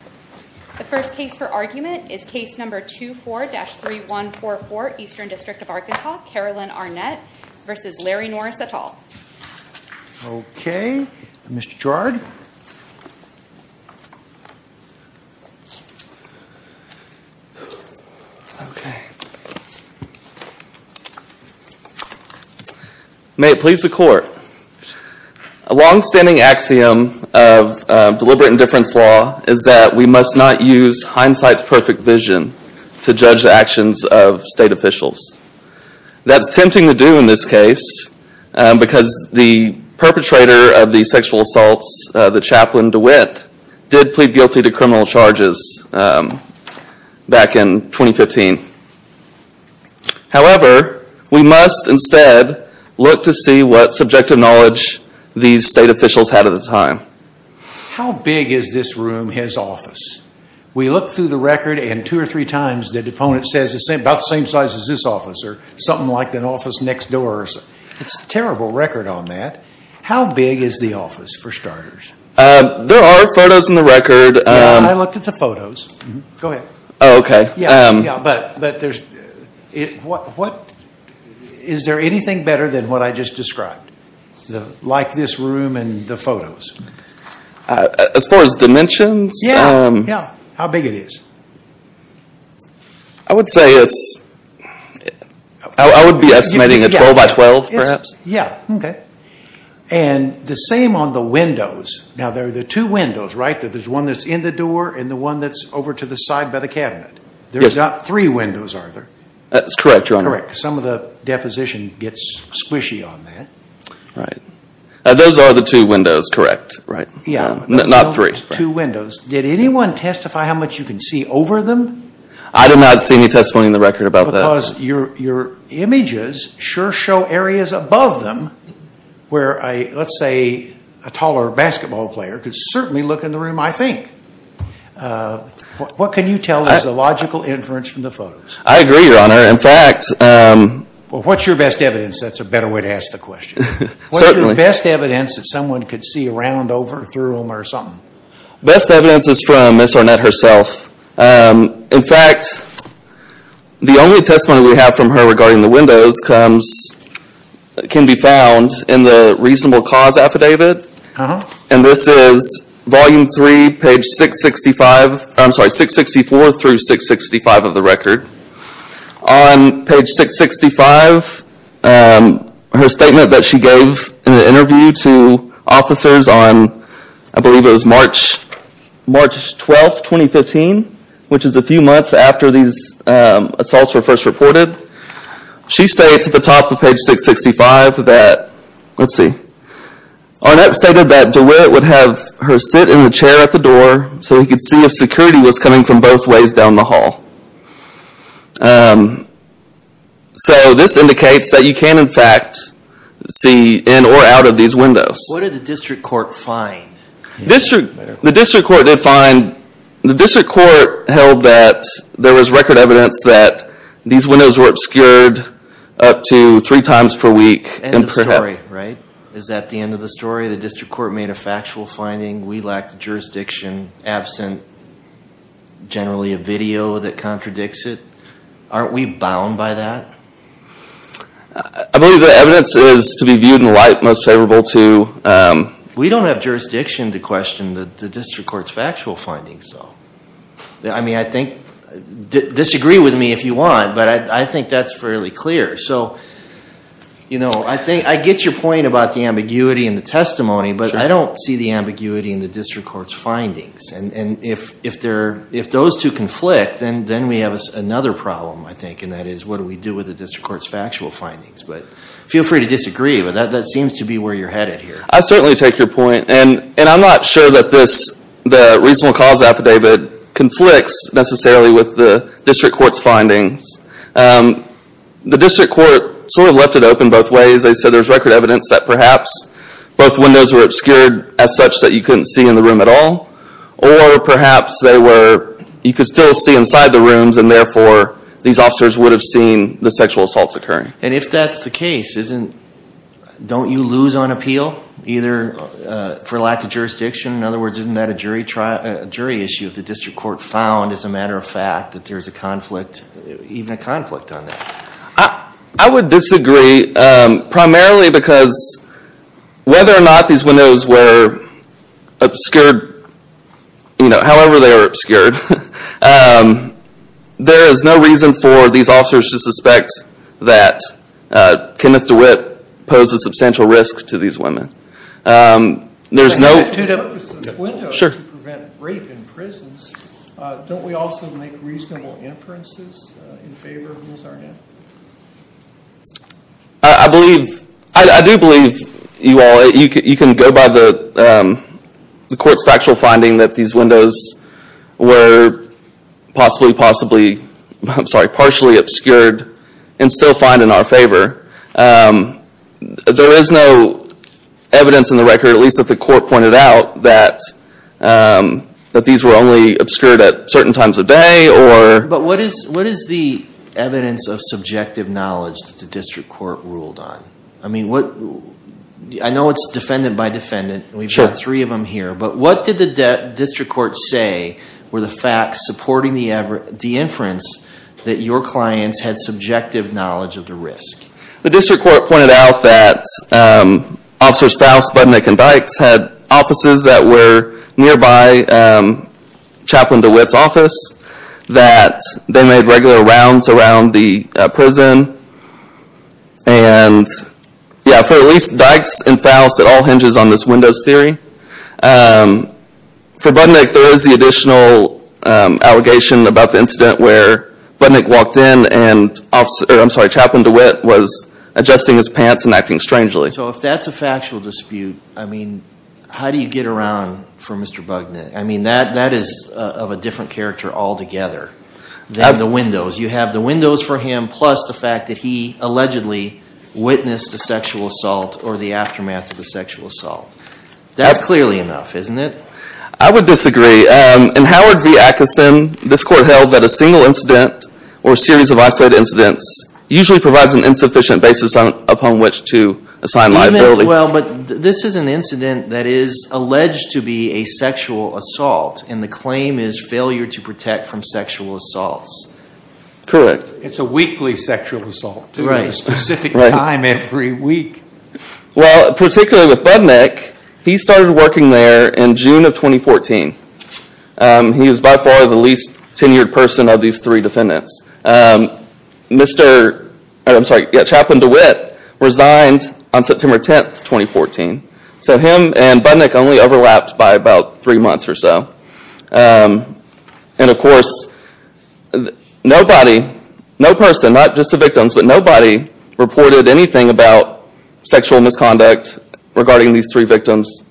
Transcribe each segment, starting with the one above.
The first case for argument is Case No. 24-3144, Eastern District of Arkansas, Carolyn Arnett v. Larry Norris et al. Okay, Mr. Gerard. May it please the Court. A longstanding axiom of deliberate indifference law is that we must not use hindsight's perfect vision to judge the actions of state officials. That's tempting to do in this case because the perpetrator of the sexual assaults, the chaplain DeWitt, did plead guilty to criminal charges back in 2015. However, we must instead look to see what subjective knowledge these state officials had at the time. How big is this room, his office? We look through the record and two or three times the deponent says it's about the same size as this office or something like an office next door. It's a terrible record on that. How big is the office, for starters? There are photos in the record. I looked at the photos. Go ahead. Oh, okay. Is there anything better than what I just described, like this room and the photos? As far as dimensions? Yeah. How big it is? I would say it's, I would be estimating a 12 by 12, perhaps. And the same on the windows. Now, there are the two windows, right? There's one that's in the door and the one that's over to the side by the cabinet. There's not three windows, are there? That's correct, Your Honor. Correct. Some of the deposition gets squishy on that. Right. Those are the two windows, correct? Yeah. Not three. Two windows. Did anyone testify how much you can see over them? I did not see any testimony in the record about that. Because your images sure show areas above them where, let's say, a taller basketball player could certainly look in the room, I think. What can you tell is the logical inference from the photos? I agree, Your Honor. In fact... Well, what's your best evidence? That's a better way to ask the question. Certainly. What's your best evidence that someone could see around, over, through them or something? Best evidence is from Ms. Ornette herself. In fact, the only testimony we have from her regarding the windows can be found in the reasonable cause affidavit. And this is Volume 3, page 664 through 665 of the record. On page 665, her statement that she gave in an interview to officers on, I believe it was March 12, 2015, which is a few months after these assaults were first reported. She states at the top of page 665 that, let's see, Ornette stated that DeWitt would have her sit in the chair at the door so he could see if security was coming from both ways down the hall. So this indicates that you can, in fact, see in or out of these windows. What did the district court find? The district court held that there was record evidence that these windows were obscured up to three times per week. End of story, right? Is that the end of the story? The district court made a factual finding? We lack the jurisdiction, absent generally a video that contradicts it? Aren't we bound by that? I believe the evidence is to be viewed in light, most favorable to... We don't have jurisdiction to question the district court's factual findings, though. I mean, I think, disagree with me if you want, but I think that's fairly clear. So, you know, I get your point about the ambiguity in the testimony, but I don't see the ambiguity in the district court's findings. And if those two conflict, then we have another problem, I think, and that is, what do we do with the district court's factual findings? But feel free to disagree, but that seems to be where you're headed here. I certainly take your point, and I'm not sure that the reasonable cause affidavit conflicts necessarily with the district court's findings. The district court sort of left it open both ways. They said there's record evidence that perhaps both windows were obscured as such that you couldn't see in the room at all, or perhaps you could still see inside the rooms and therefore these officers would have seen the sexual assaults occurring. And if that's the case, don't you lose on appeal, either for lack of jurisdiction? In other words, isn't that a jury issue if the district court found, as a matter of fact, that there's a conflict, even a conflict on that? I would disagree, primarily because whether or not these windows were obscured, you know, however they were obscured, there is no reason for these officers to suspect that Kenneth DeWitt poses substantial risks to these women. There's no... To prevent rape in prisons, don't we also make reasonable inferences in favor of Ms. Arnett? I believe, I do believe you all, you can go by the court's factual finding that these windows were possibly, possibly, I'm sorry, partially obscured and still find in our favor. There is no evidence in the record, at least that the court pointed out, that these were only obscured at certain times of day or... But what is the evidence of subjective knowledge that the district court ruled on? I mean, I know it's defendant by defendant, we've got three of them here, but what did the district court say were the facts supporting the inference that your clients had subjective knowledge of the risk? The district court pointed out that officers Faust, Budnick, and Dykes had offices that were nearby Chaplain DeWitt's office, that they made regular rounds around the prison, and, yeah, for at least Dykes and Faust, it all hinges on this windows theory. For Budnick, there is the additional allegation about the incident where Budnick walked in, and Chaplain DeWitt was adjusting his pants and acting strangely. So if that's a factual dispute, I mean, how do you get around for Mr. Budnick? I mean, that is of a different character altogether than the windows. You have the windows for him, plus the fact that he allegedly witnessed the sexual assault or the aftermath of the sexual assault. That's clearly enough, isn't it? I would disagree. In Howard v. Atkison, this court held that a single incident or a series of isolated incidents usually provides an insufficient basis upon which to assign liability. Well, but this is an incident that is alleged to be a sexual assault, and the claim is failure to protect from sexual assaults. Correct. It's a weekly sexual assault. Right. At a specific time every week. Well, particularly with Budnick, he started working there in June of 2014. He was by far the least tenured person of these three defendants. Chaplain DeWitt resigned on September 10, 2014. So him and Budnick only overlapped by about three months or so. And of course, nobody, no person, not just the victims, but nobody reported anything about sexual misconduct regarding these three victims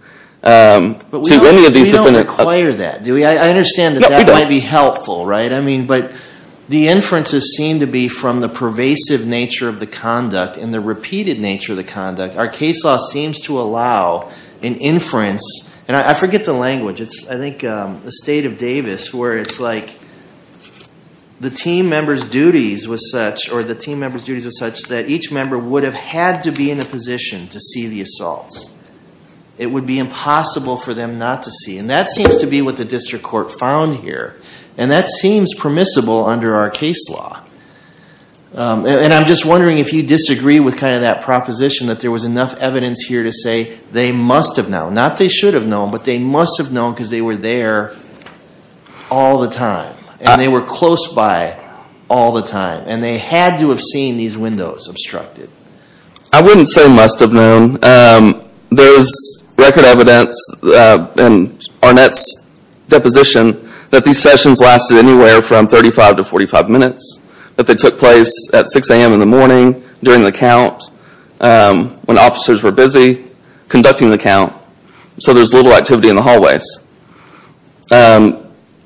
to any of these defendants. But we don't require that, do we? I understand that that might be helpful, right? No, we don't. I mean, but the inferences seem to be from the pervasive nature of the conduct and the repeated nature of the conduct. Our case law seems to allow an inference, and I forget the language, I think it's the state of Davis where it's like the team member's duties were such that each member would have had to be in a position to see the assaults. It would be impossible for them not to see. And that seems to be what the district court found here. And that seems permissible under our case law. And I'm just wondering if you disagree with kind of that proposition that there was enough evidence here to say they must have known. Not they should have known, but they must have known because they were there all the time. And they were close by all the time. And they had to have seen these windows obstructed. I wouldn't say must have known. There's record evidence in Arnett's deposition that these sessions lasted anywhere from 35 to 45 minutes. That they took place at 6 a.m. in the morning during the count when officers were busy conducting the count. So there's little activity in the hallways.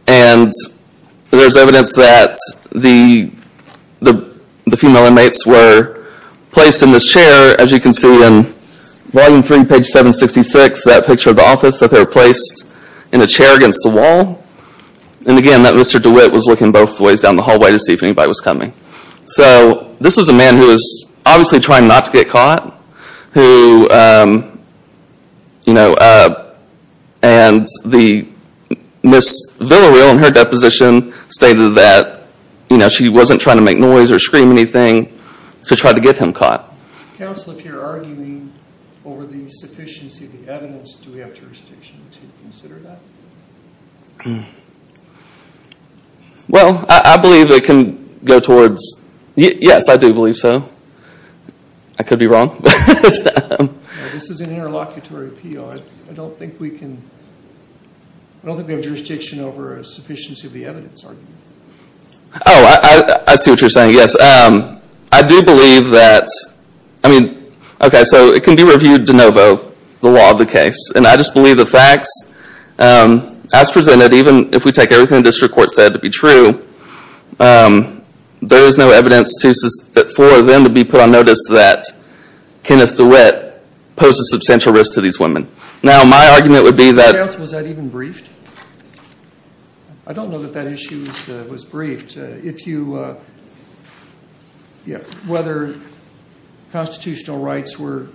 And there's evidence that the female inmates were placed in this chair. As you can see in Volume 3, page 766, that picture of the office, that they were placed in a chair against the wall. And again, that Mr. DeWitt was looking both ways down the hallway to see if anybody was coming. So this was a man who was obviously trying not to get caught. And Ms. Villareal in her deposition stated that she wasn't trying to make noise or scream anything to try to get him caught. Counsel, if you're arguing over the sufficiency of the evidence, do we have jurisdiction to consider that? Well, I believe it can go towards, yes, I do believe so. I could be wrong. This is an interlocutory appeal. I don't think we can, I don't think we have jurisdiction over a sufficiency of the evidence argument. Oh, I see what you're saying, yes. I do believe that, I mean, okay, so it can be reviewed de novo, the law of the case. And I just believe the facts, as presented, even if we take everything the district court said to be true, there is no evidence for them to be put on notice that Kenneth DeWitt posed a substantial risk to these women. Now, my argument would be that... Counsel, was that even briefed? I don't know that that issue was briefed. Whether constitutional rights were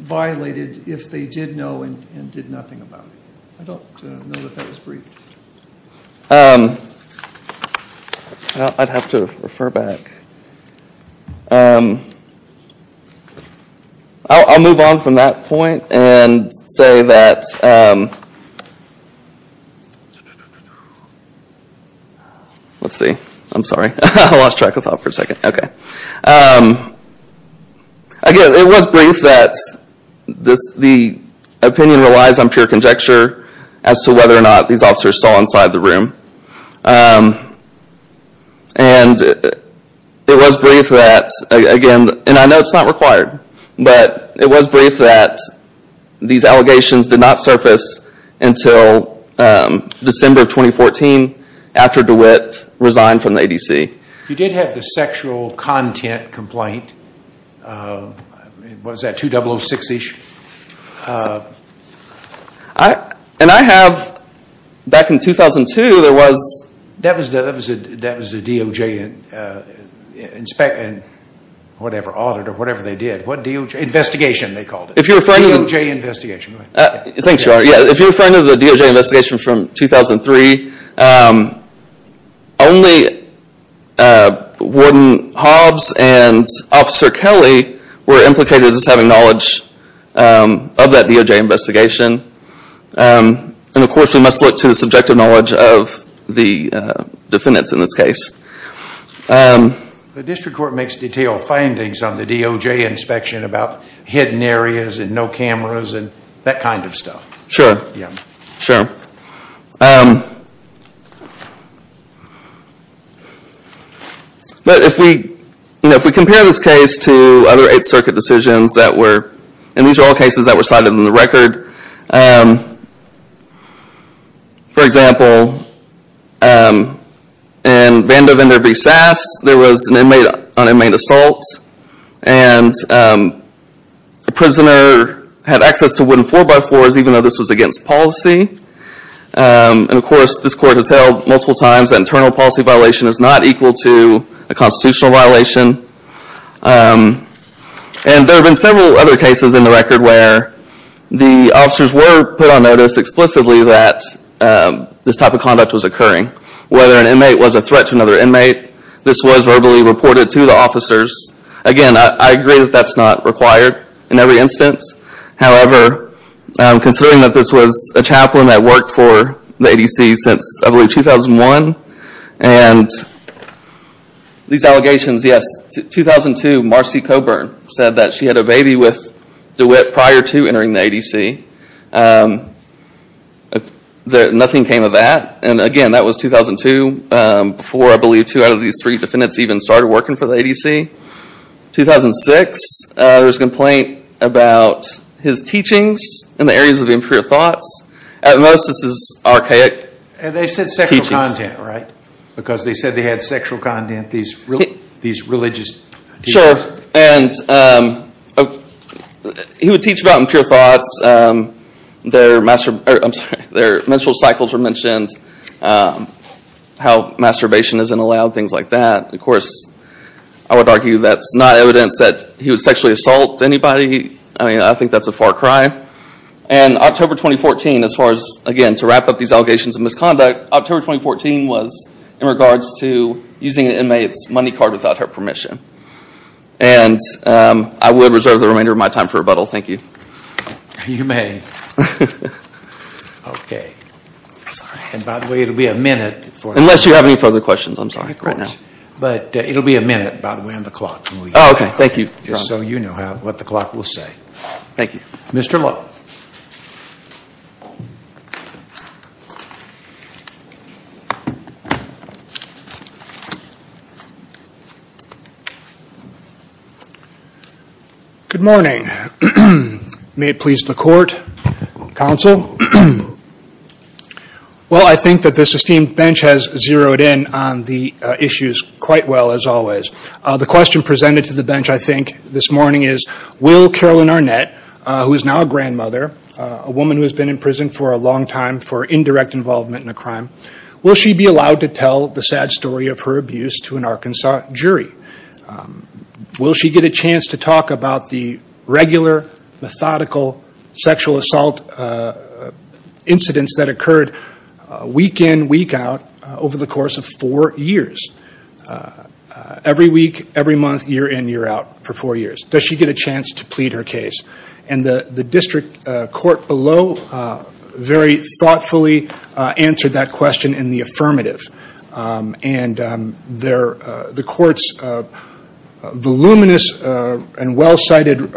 violated if they did know and did nothing about it. I don't know that that was briefed. I'd have to refer back. I'll move on from that point and say that... Let's see. I'm sorry. I lost track of thought for a second. Okay. Again, it was briefed that the opinion relies on pure conjecture as to whether or not these officers stole inside the room. And it was briefed that, again, and I know it's not required, but it was briefed that these allegations did not surface until December of 2014 after DeWitt resigned from the ADC. You did have the sexual content complaint. Was that 2006-ish? And I have, back in 2002, there was... That was the DOJ inspection, whatever, audit or whatever they did. What DOJ? Investigation, they called it. If you're referring to... DOJ investigation. Thanks, Gerard. If you're referring to the DOJ investigation from 2003, only Warden Hobbs and Officer Kelly were implicated as having knowledge of that DOJ investigation. And, of course, we must look to the subjective knowledge of the defendants in this case. The district court makes detailed findings on the DOJ inspection about hidden areas and no cameras and that kind of stuff. Sure. Yeah. Sure. But if we compare this case to other Eighth Circuit decisions that were... And these are all cases that were cited in the record. For example, in Vandervender v. Sass, there was an inmate on inmate assault, and the prisoner had access to wooden 4x4s, even though this was against policy. And, of course, this court has held multiple times that internal policy violation is not equal to a constitutional violation. And there have been several other cases in the record where the officers were put on notice explicitly that this type of conduct was occurring. Whether an inmate was a threat to another inmate, this was verbally reported to the officers. Again, I agree that that's not required in every instance. However, considering that this was a chaplain that worked for the ADC since, I believe, 2001, and these allegations, yes, 2002, Marcy Coburn said that she had a baby with DeWitt prior to entering the ADC. Nothing came of that. And, again, that was 2002, before, I believe, two out of these three defendants even started working for the ADC. 2006, there was a complaint about his teachings in the areas of impure thoughts. At most, this is archaic teachings. And they said sexual content, right? Because they said they had sexual content, these religious teachings. Sure, and he would teach about impure thoughts. Their menstrual cycles were mentioned, how masturbation isn't allowed, things like that. Of course, I would argue that's not evidence that he would sexually assault anybody. I mean, I think that's a far cry. And October 2014, as far as, again, to wrap up these allegations of misconduct, October 2014 was in regards to using an inmate's money card without her permission. And I will reserve the remainder of my time for rebuttal. Thank you. You may. Sorry. And, by the way, it will be a minute. Unless you have any further questions. I'm sorry. Of course. Right now. But it will be a minute, by the way, on the clock. Oh, okay. Thank you. Just so you know what the clock will say. Thank you. Mr. Lowe. Good morning. May it please the Court, Counsel. Well, I think that this esteemed bench has zeroed in on the issues quite well, as always. The question presented to the bench, I think, this morning is, will Carolyn Arnett, who is now a grandmother, a woman who has been in prison for a long time for indirect involvement in a crime, will she be allowed to tell the sad story of her abuse to an Arkansas jury? Will she get a chance to talk about the regular, methodical sexual assault incidents that occurred week in, week out, over the course of four years? Every week, every month, year in, year out, for four years. Does she get a chance to plead her case? And the district court below very thoughtfully answered that question in the affirmative. And the Court's voluminous and well-cited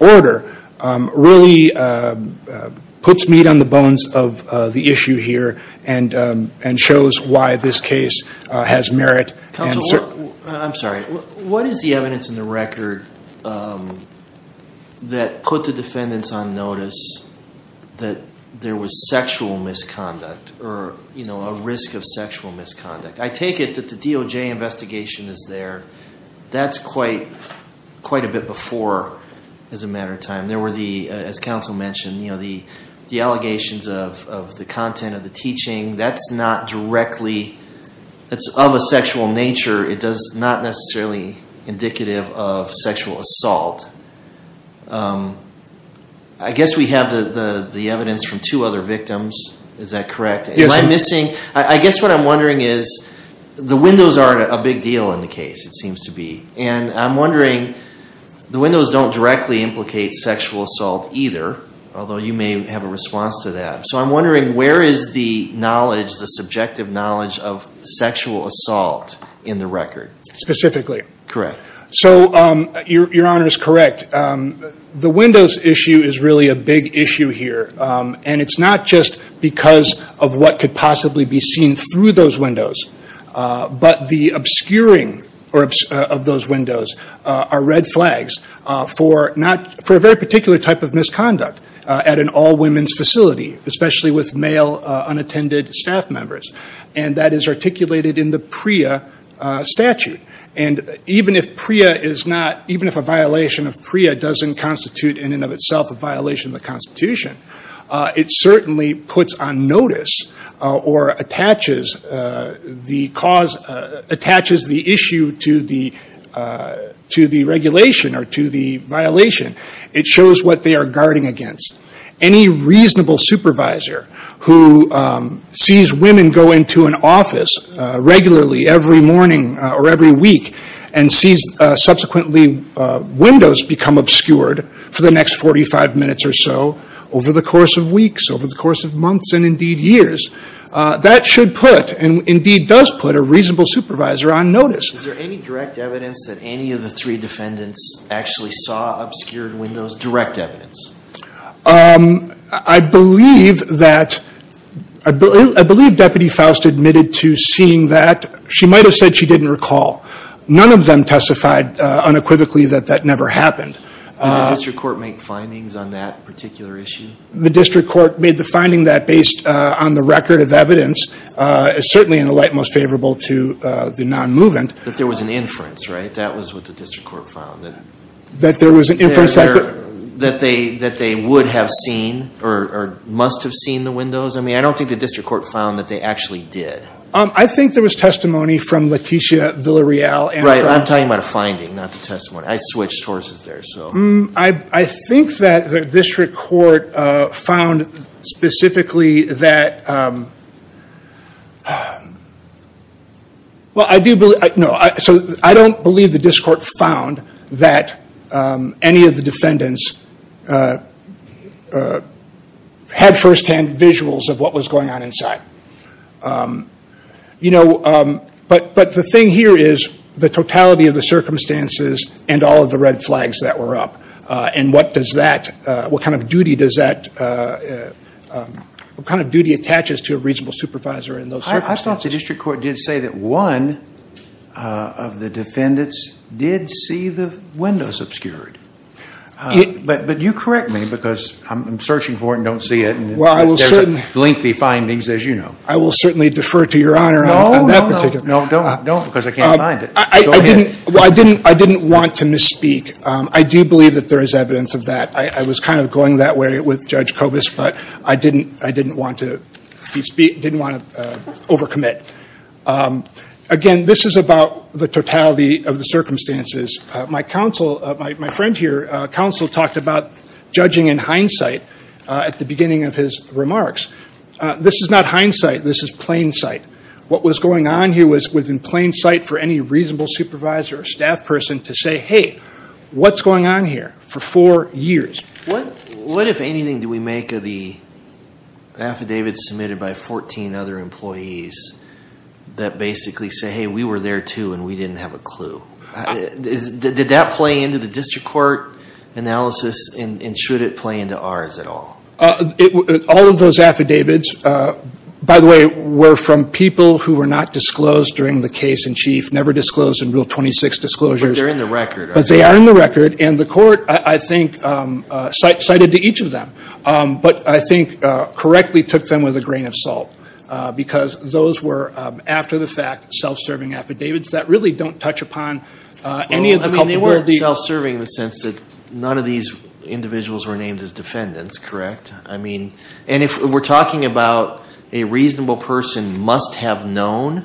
order really puts meat on the bones of the issue here and shows why this case has merit. Counsel, I'm sorry. What is the evidence in the record that put the defendants on notice that there was sexual misconduct or a risk of sexual misconduct? I take it that the DOJ investigation is there. That's quite a bit before, as a matter of time. There were, as Counsel mentioned, the allegations of the content of the teaching. That's not directly of a sexual nature. It's not necessarily indicative of sexual assault. I guess we have the evidence from two other victims. Is that correct? Yes. Am I missing? I guess what I'm wondering is the windows aren't a big deal in the case, it seems to be. And I'm wondering, the windows don't directly implicate sexual assault either, although you may have a response to that. So I'm wondering where is the knowledge, the subjective knowledge of sexual assault in the record? Specifically. Correct. So your Honor is correct. The windows issue is really a big issue here. And it's not just because of what could possibly be seen through those windows, but the obscuring of those windows are red flags for a very particular type of misconduct at an all-women's facility, especially with male unattended staff members. And that is articulated in the PREA statute. And even if a violation of PREA doesn't constitute in and of itself a violation of the Constitution, it certainly puts on notice or attaches the issue to the regulation or to the violation. It shows what they are guarding against. Any reasonable supervisor who sees women go into an office regularly every morning or every week and sees subsequently windows become obscured for the next 45 minutes or so, over the course of weeks, over the course of months, and indeed years, that should put and indeed does put a reasonable supervisor on notice. Is there any direct evidence that any of the three defendants actually saw obscured windows? Direct evidence? I believe that Deputy Faust admitted to seeing that. She might have said she didn't recall. None of them testified unequivocally that that never happened. Did the district court make findings on that particular issue? The district court made the finding that, based on the record of evidence, is certainly in the light most favorable to the non-movement. But there was an inference, right? That was what the district court found. That there was an inference that they would have seen or must have seen the windows? I mean, I don't think the district court found that they actually did. I think there was testimony from Leticia Villarreal. Right, I'm talking about a finding, not the testimony. I switched horses there, so. I think that the district court found specifically that, well, I do believe, no, so I don't believe the district court found that any of the defendants had firsthand visuals of what was going on inside. You know, but the thing here is the totality of the circumstances and all of the red flags that were up. And what does that, what kind of duty does that, what kind of duty attaches to a reasonable supervisor in those circumstances? I thought the district court did say that one of the defendants did see the windows obscured. But you correct me because I'm searching for it and don't see it. Well, I will certainly. There's lengthy findings, as you know. I will certainly defer to Your Honor on that particular. Don't, because I can't find it. I didn't want to misspeak. I do believe that there is evidence of that. I was kind of going that way with Judge Kobus, but I didn't want to overcommit. Again, this is about the totality of the circumstances. My counsel, my friend here, counsel, talked about judging in hindsight at the beginning of his remarks. This is not hindsight. This is plain sight. What was going on here was within plain sight for any reasonable supervisor or staff person to say, hey, what's going on here for four years? What, if anything, do we make of the affidavits submitted by 14 other employees that basically say, hey, we were there too and we didn't have a clue? Did that play into the district court analysis, and should it play into ours at all? All of those affidavits, by the way, were from people who were not disclosed during the case in chief, never disclosed in Rule 26 disclosures. But they're in the record, aren't they? But they are in the record, and the court, I think, cited to each of them, but I think correctly took them with a grain of salt because those were, after the fact, self-serving affidavits that really don't touch upon any of the culpability. They weren't self-serving in the sense that none of these individuals were named as defendants, correct? And if we're talking about a reasonable person must have known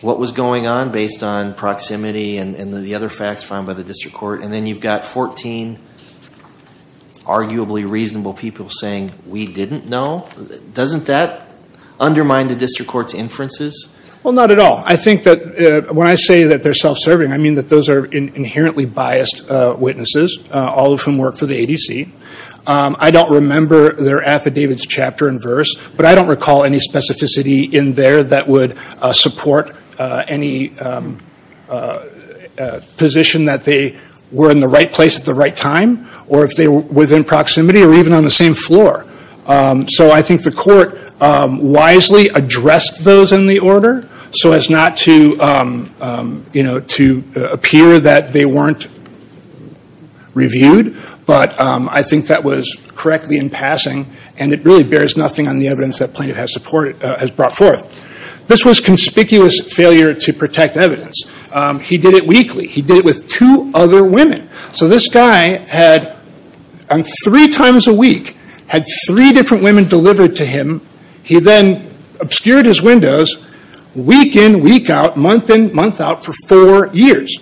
what was going on based on proximity and the other facts found by the district court, and then you've got 14 arguably reasonable people saying we didn't know, doesn't that undermine the district court's inferences? Well, not at all. I think that when I say that they're self-serving, I mean that those are inherently biased witnesses, all of whom work for the ADC. I don't remember their affidavits chapter and verse, but I don't recall any specificity in there that would support any position that they were in the right place at the right time, or if they were within proximity, or even on the same floor. So I think the court wisely addressed those in the order so as not to appear that they weren't reviewed, but I think that was correctly in passing, and it really bears nothing on the evidence that Plaintiff has brought forth. This was conspicuous failure to protect evidence. He did it weakly. He did it with two other women. So this guy had, on three times a week, had three different women delivered to him. He then obscured his windows week in, week out, month in, month out for four years.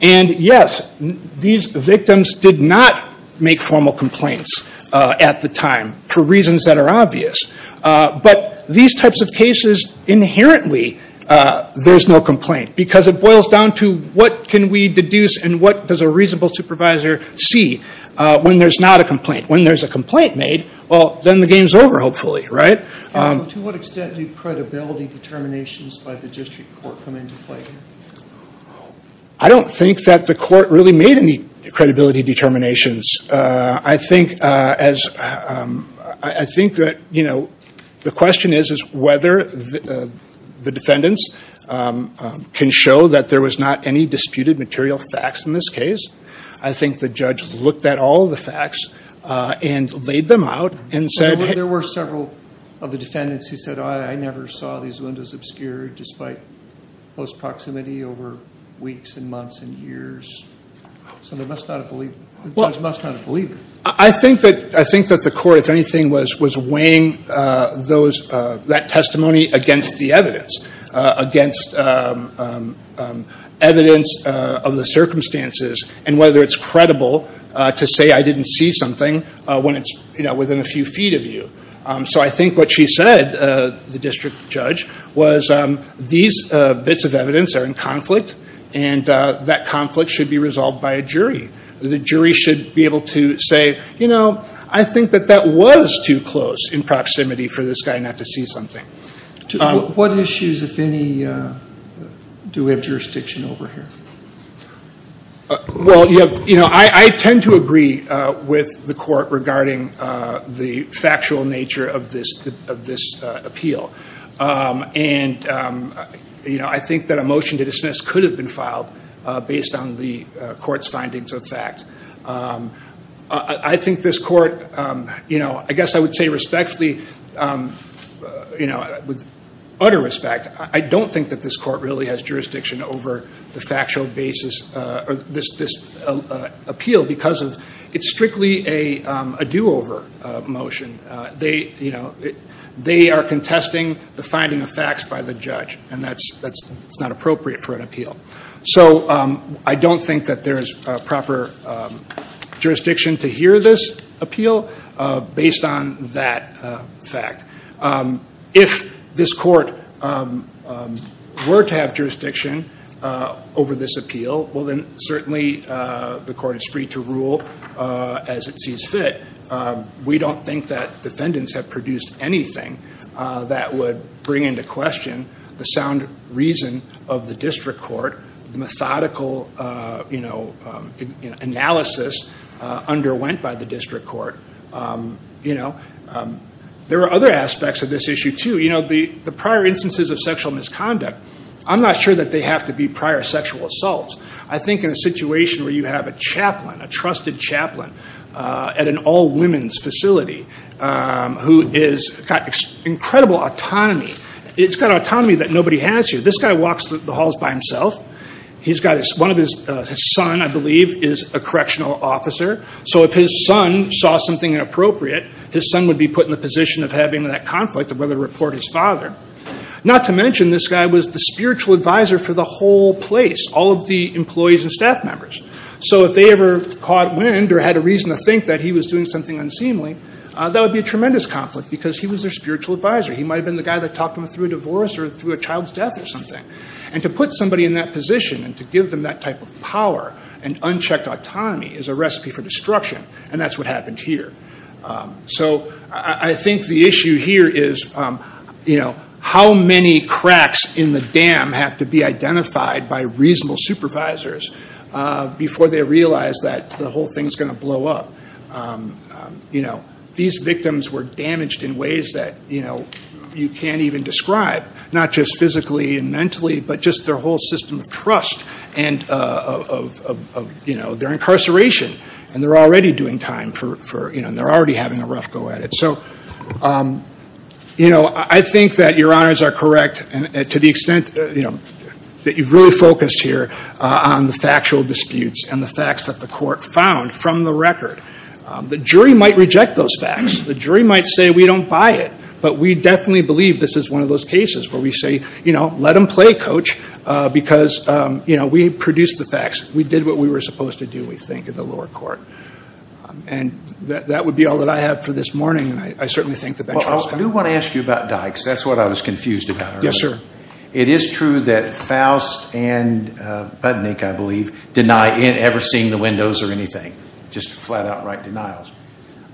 And yes, these victims did not make formal complaints at the time for reasons that are obvious, but these types of cases inherently there's no complaint because it boils down to what can we deduce and what does a reasonable supervisor see when there's not a complaint. When there's a complaint made, well, then the game's over hopefully, right? To what extent do credibility determinations by the district court come into play? I don't think that the court really made any credibility determinations. I think that the question is whether the defendants can show that there was not any disputed material facts in this case. I think the judge looked at all the facts and laid them out and said- There were several of the defendants who said, I never saw these windows obscured despite close proximity over weeks and months and years. So the judge must not have believed it. I think that the court, if anything, was weighing that testimony against the evidence, against evidence of the circumstances and whether it's credible to say I didn't see something when it's within a few feet of you. So I think what she said, the district judge, was these bits of evidence are in conflict and that conflict should be resolved by a jury. The jury should be able to say, you know, I think that that was too close in proximity for this guy not to see something. What issues, if any, do we have jurisdiction over here? Well, you know, I tend to agree with the court regarding the factual nature of this appeal. And, you know, I think that a motion to dismiss could have been filed based on the court's findings of fact. I think this court, you know, I guess I would say respectfully, you know, with utter respect, I don't think that this court really has jurisdiction over the factual basis of this appeal because it's strictly a do-over motion. They, you know, they are contesting the finding of facts by the judge, and that's not appropriate for an appeal. So I don't think that there is proper jurisdiction to hear this appeal based on that fact. If this court were to have jurisdiction over this appeal, well, then certainly the court is free to rule as it sees fit. We don't think that defendants have produced anything that would bring into question the sound reason of the district court, the methodical, you know, analysis underwent by the district court, you know. There are other aspects of this issue, too. You know, the prior instances of sexual misconduct, I'm not sure that they have to be prior sexual assaults. I think in a situation where you have a chaplain, a trusted chaplain at an all-women's facility who has got incredible autonomy, it's got autonomy that nobody has here. This guy walks the halls by himself. He's got his son, I believe, is a correctional officer. So if his son saw something inappropriate, his son would be put in the position of having that conflict of whether to report his father. Not to mention this guy was the spiritual advisor for the whole place, all of the employees and staff members. So if they ever caught wind or had a reason to think that he was doing something unseemly, that would be a tremendous conflict because he was their spiritual advisor. He might have been the guy that talked them through a divorce or through a child's death or something. And to put somebody in that position and to give them that type of power and unchecked autonomy is a recipe for destruction, and that's what happened here. So I think the issue here is how many cracks in the dam have to be identified by reasonable supervisors before they realize that the whole thing is going to blow up. These victims were damaged in ways that you can't even describe, not just physically and mentally, but just their whole system of trust and their incarceration. And they're already doing time, and they're already having a rough go at it. So I think that your honors are correct to the extent that you've really focused here on the factual disputes and the facts that the court found from the record. The jury might reject those facts. The jury might say, we don't buy it. But we definitely believe this is one of those cases where we say, you know, let them play, coach, because we produced the facts. We did what we were supposed to do, we think, in the lower court. And that would be all that I have for this morning, and I certainly think the bench will discuss it. I do want to ask you about Dykes. That's what I was confused about. Yes, sir. It is true that Faust and Budnick, I believe, deny ever seeing the windows or anything, just flat-out right denials.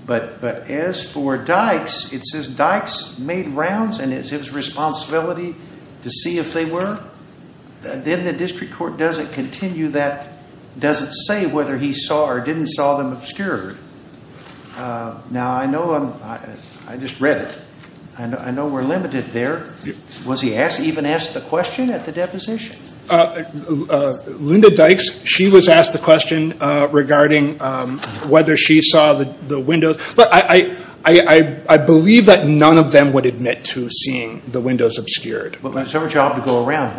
But as for Dykes, it says Dykes made rounds, and it's his responsibility to see if they were. Then the district court doesn't continue that, doesn't say whether he saw or didn't saw them obscured. Now, I know I just read it. I know we're limited there. Was he even asked the question at the deposition? Linda Dykes, she was asked the question regarding whether she saw the windows. But I believe that none of them would admit to seeing the windows obscured. But it's her job to go around.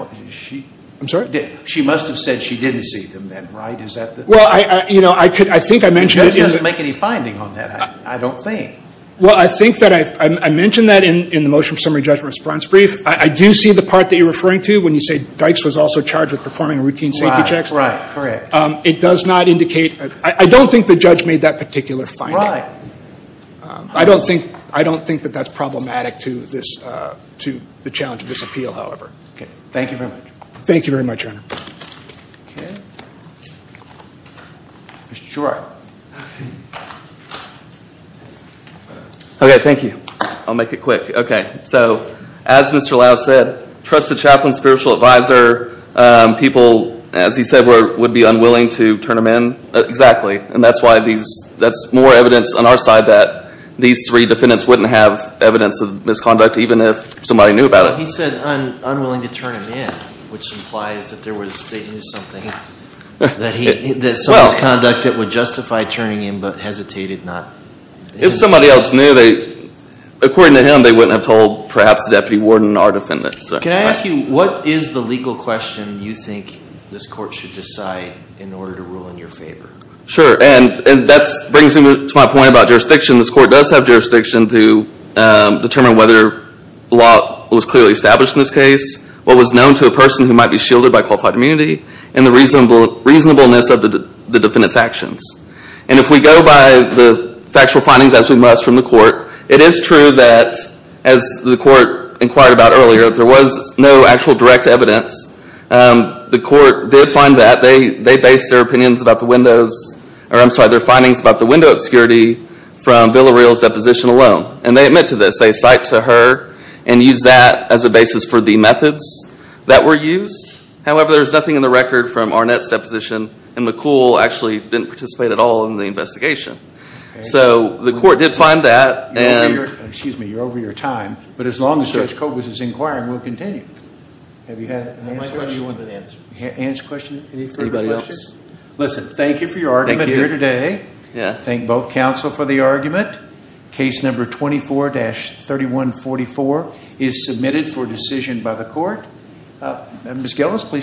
I'm sorry? She must have said she didn't see them then, right? Is that the thing? Well, you know, I think I mentioned it. The judge doesn't make any finding on that, I don't think. Well, I think that I mentioned that in the motion summary judgment response brief. I do see the part that you're referring to when you say Dykes was also charged with performing routine safety checks. Right, right, correct. It does not indicate. I don't think the judge made that particular finding. I don't think that that's problematic to the challenge of this appeal, however. Okay. Thank you very much. Thank you very much, Your Honor. Okay. Mr. Shor. Okay, thank you. I'll make it quick. Okay. So, as Mr. Lau said, trusted chaplain, spiritual advisor, people, as he said, would be unwilling to turn him in. Exactly. And that's why these, that's more evidence on our side that these three defendants wouldn't have evidence of misconduct even if somebody knew about it. He said unwilling to turn him in, which implies that there was, they knew something, that some misconduct that would justify turning him in but hesitated not. If somebody else knew, they, according to him, they wouldn't have told perhaps the deputy warden or defendant. Can I ask you, what is the legal question you think this court should decide in order to rule in your favor? Sure, and that brings me to my point about jurisdiction. This court does have jurisdiction to determine whether law was clearly established in this case, what was known to a person who might be shielded by qualified immunity, and the reasonableness of the defendant's actions. And if we go by the factual findings, as we must from the court, it is true that, as the court inquired about earlier, there was no actual direct evidence. The court did find that. They based their opinions about the windows, or I'm sorry, their findings about the window obscurity from Bill O'Reil's deposition alone. And they admit to this. They cite to her and use that as a basis for the methods that were used. However, there's nothing in the record from Arnett's deposition, and McCool actually didn't participate at all in the investigation. So the court did find that. Excuse me, you're over your time. But as long as Judge Kogut is inquiring, we'll continue. Have you had an answer? Any further questions? Listen, thank you for your argument here today. Thank both counsel for the argument. Case number 24-3144 is submitted for decision by the court. Ms. Gillis, please come forward.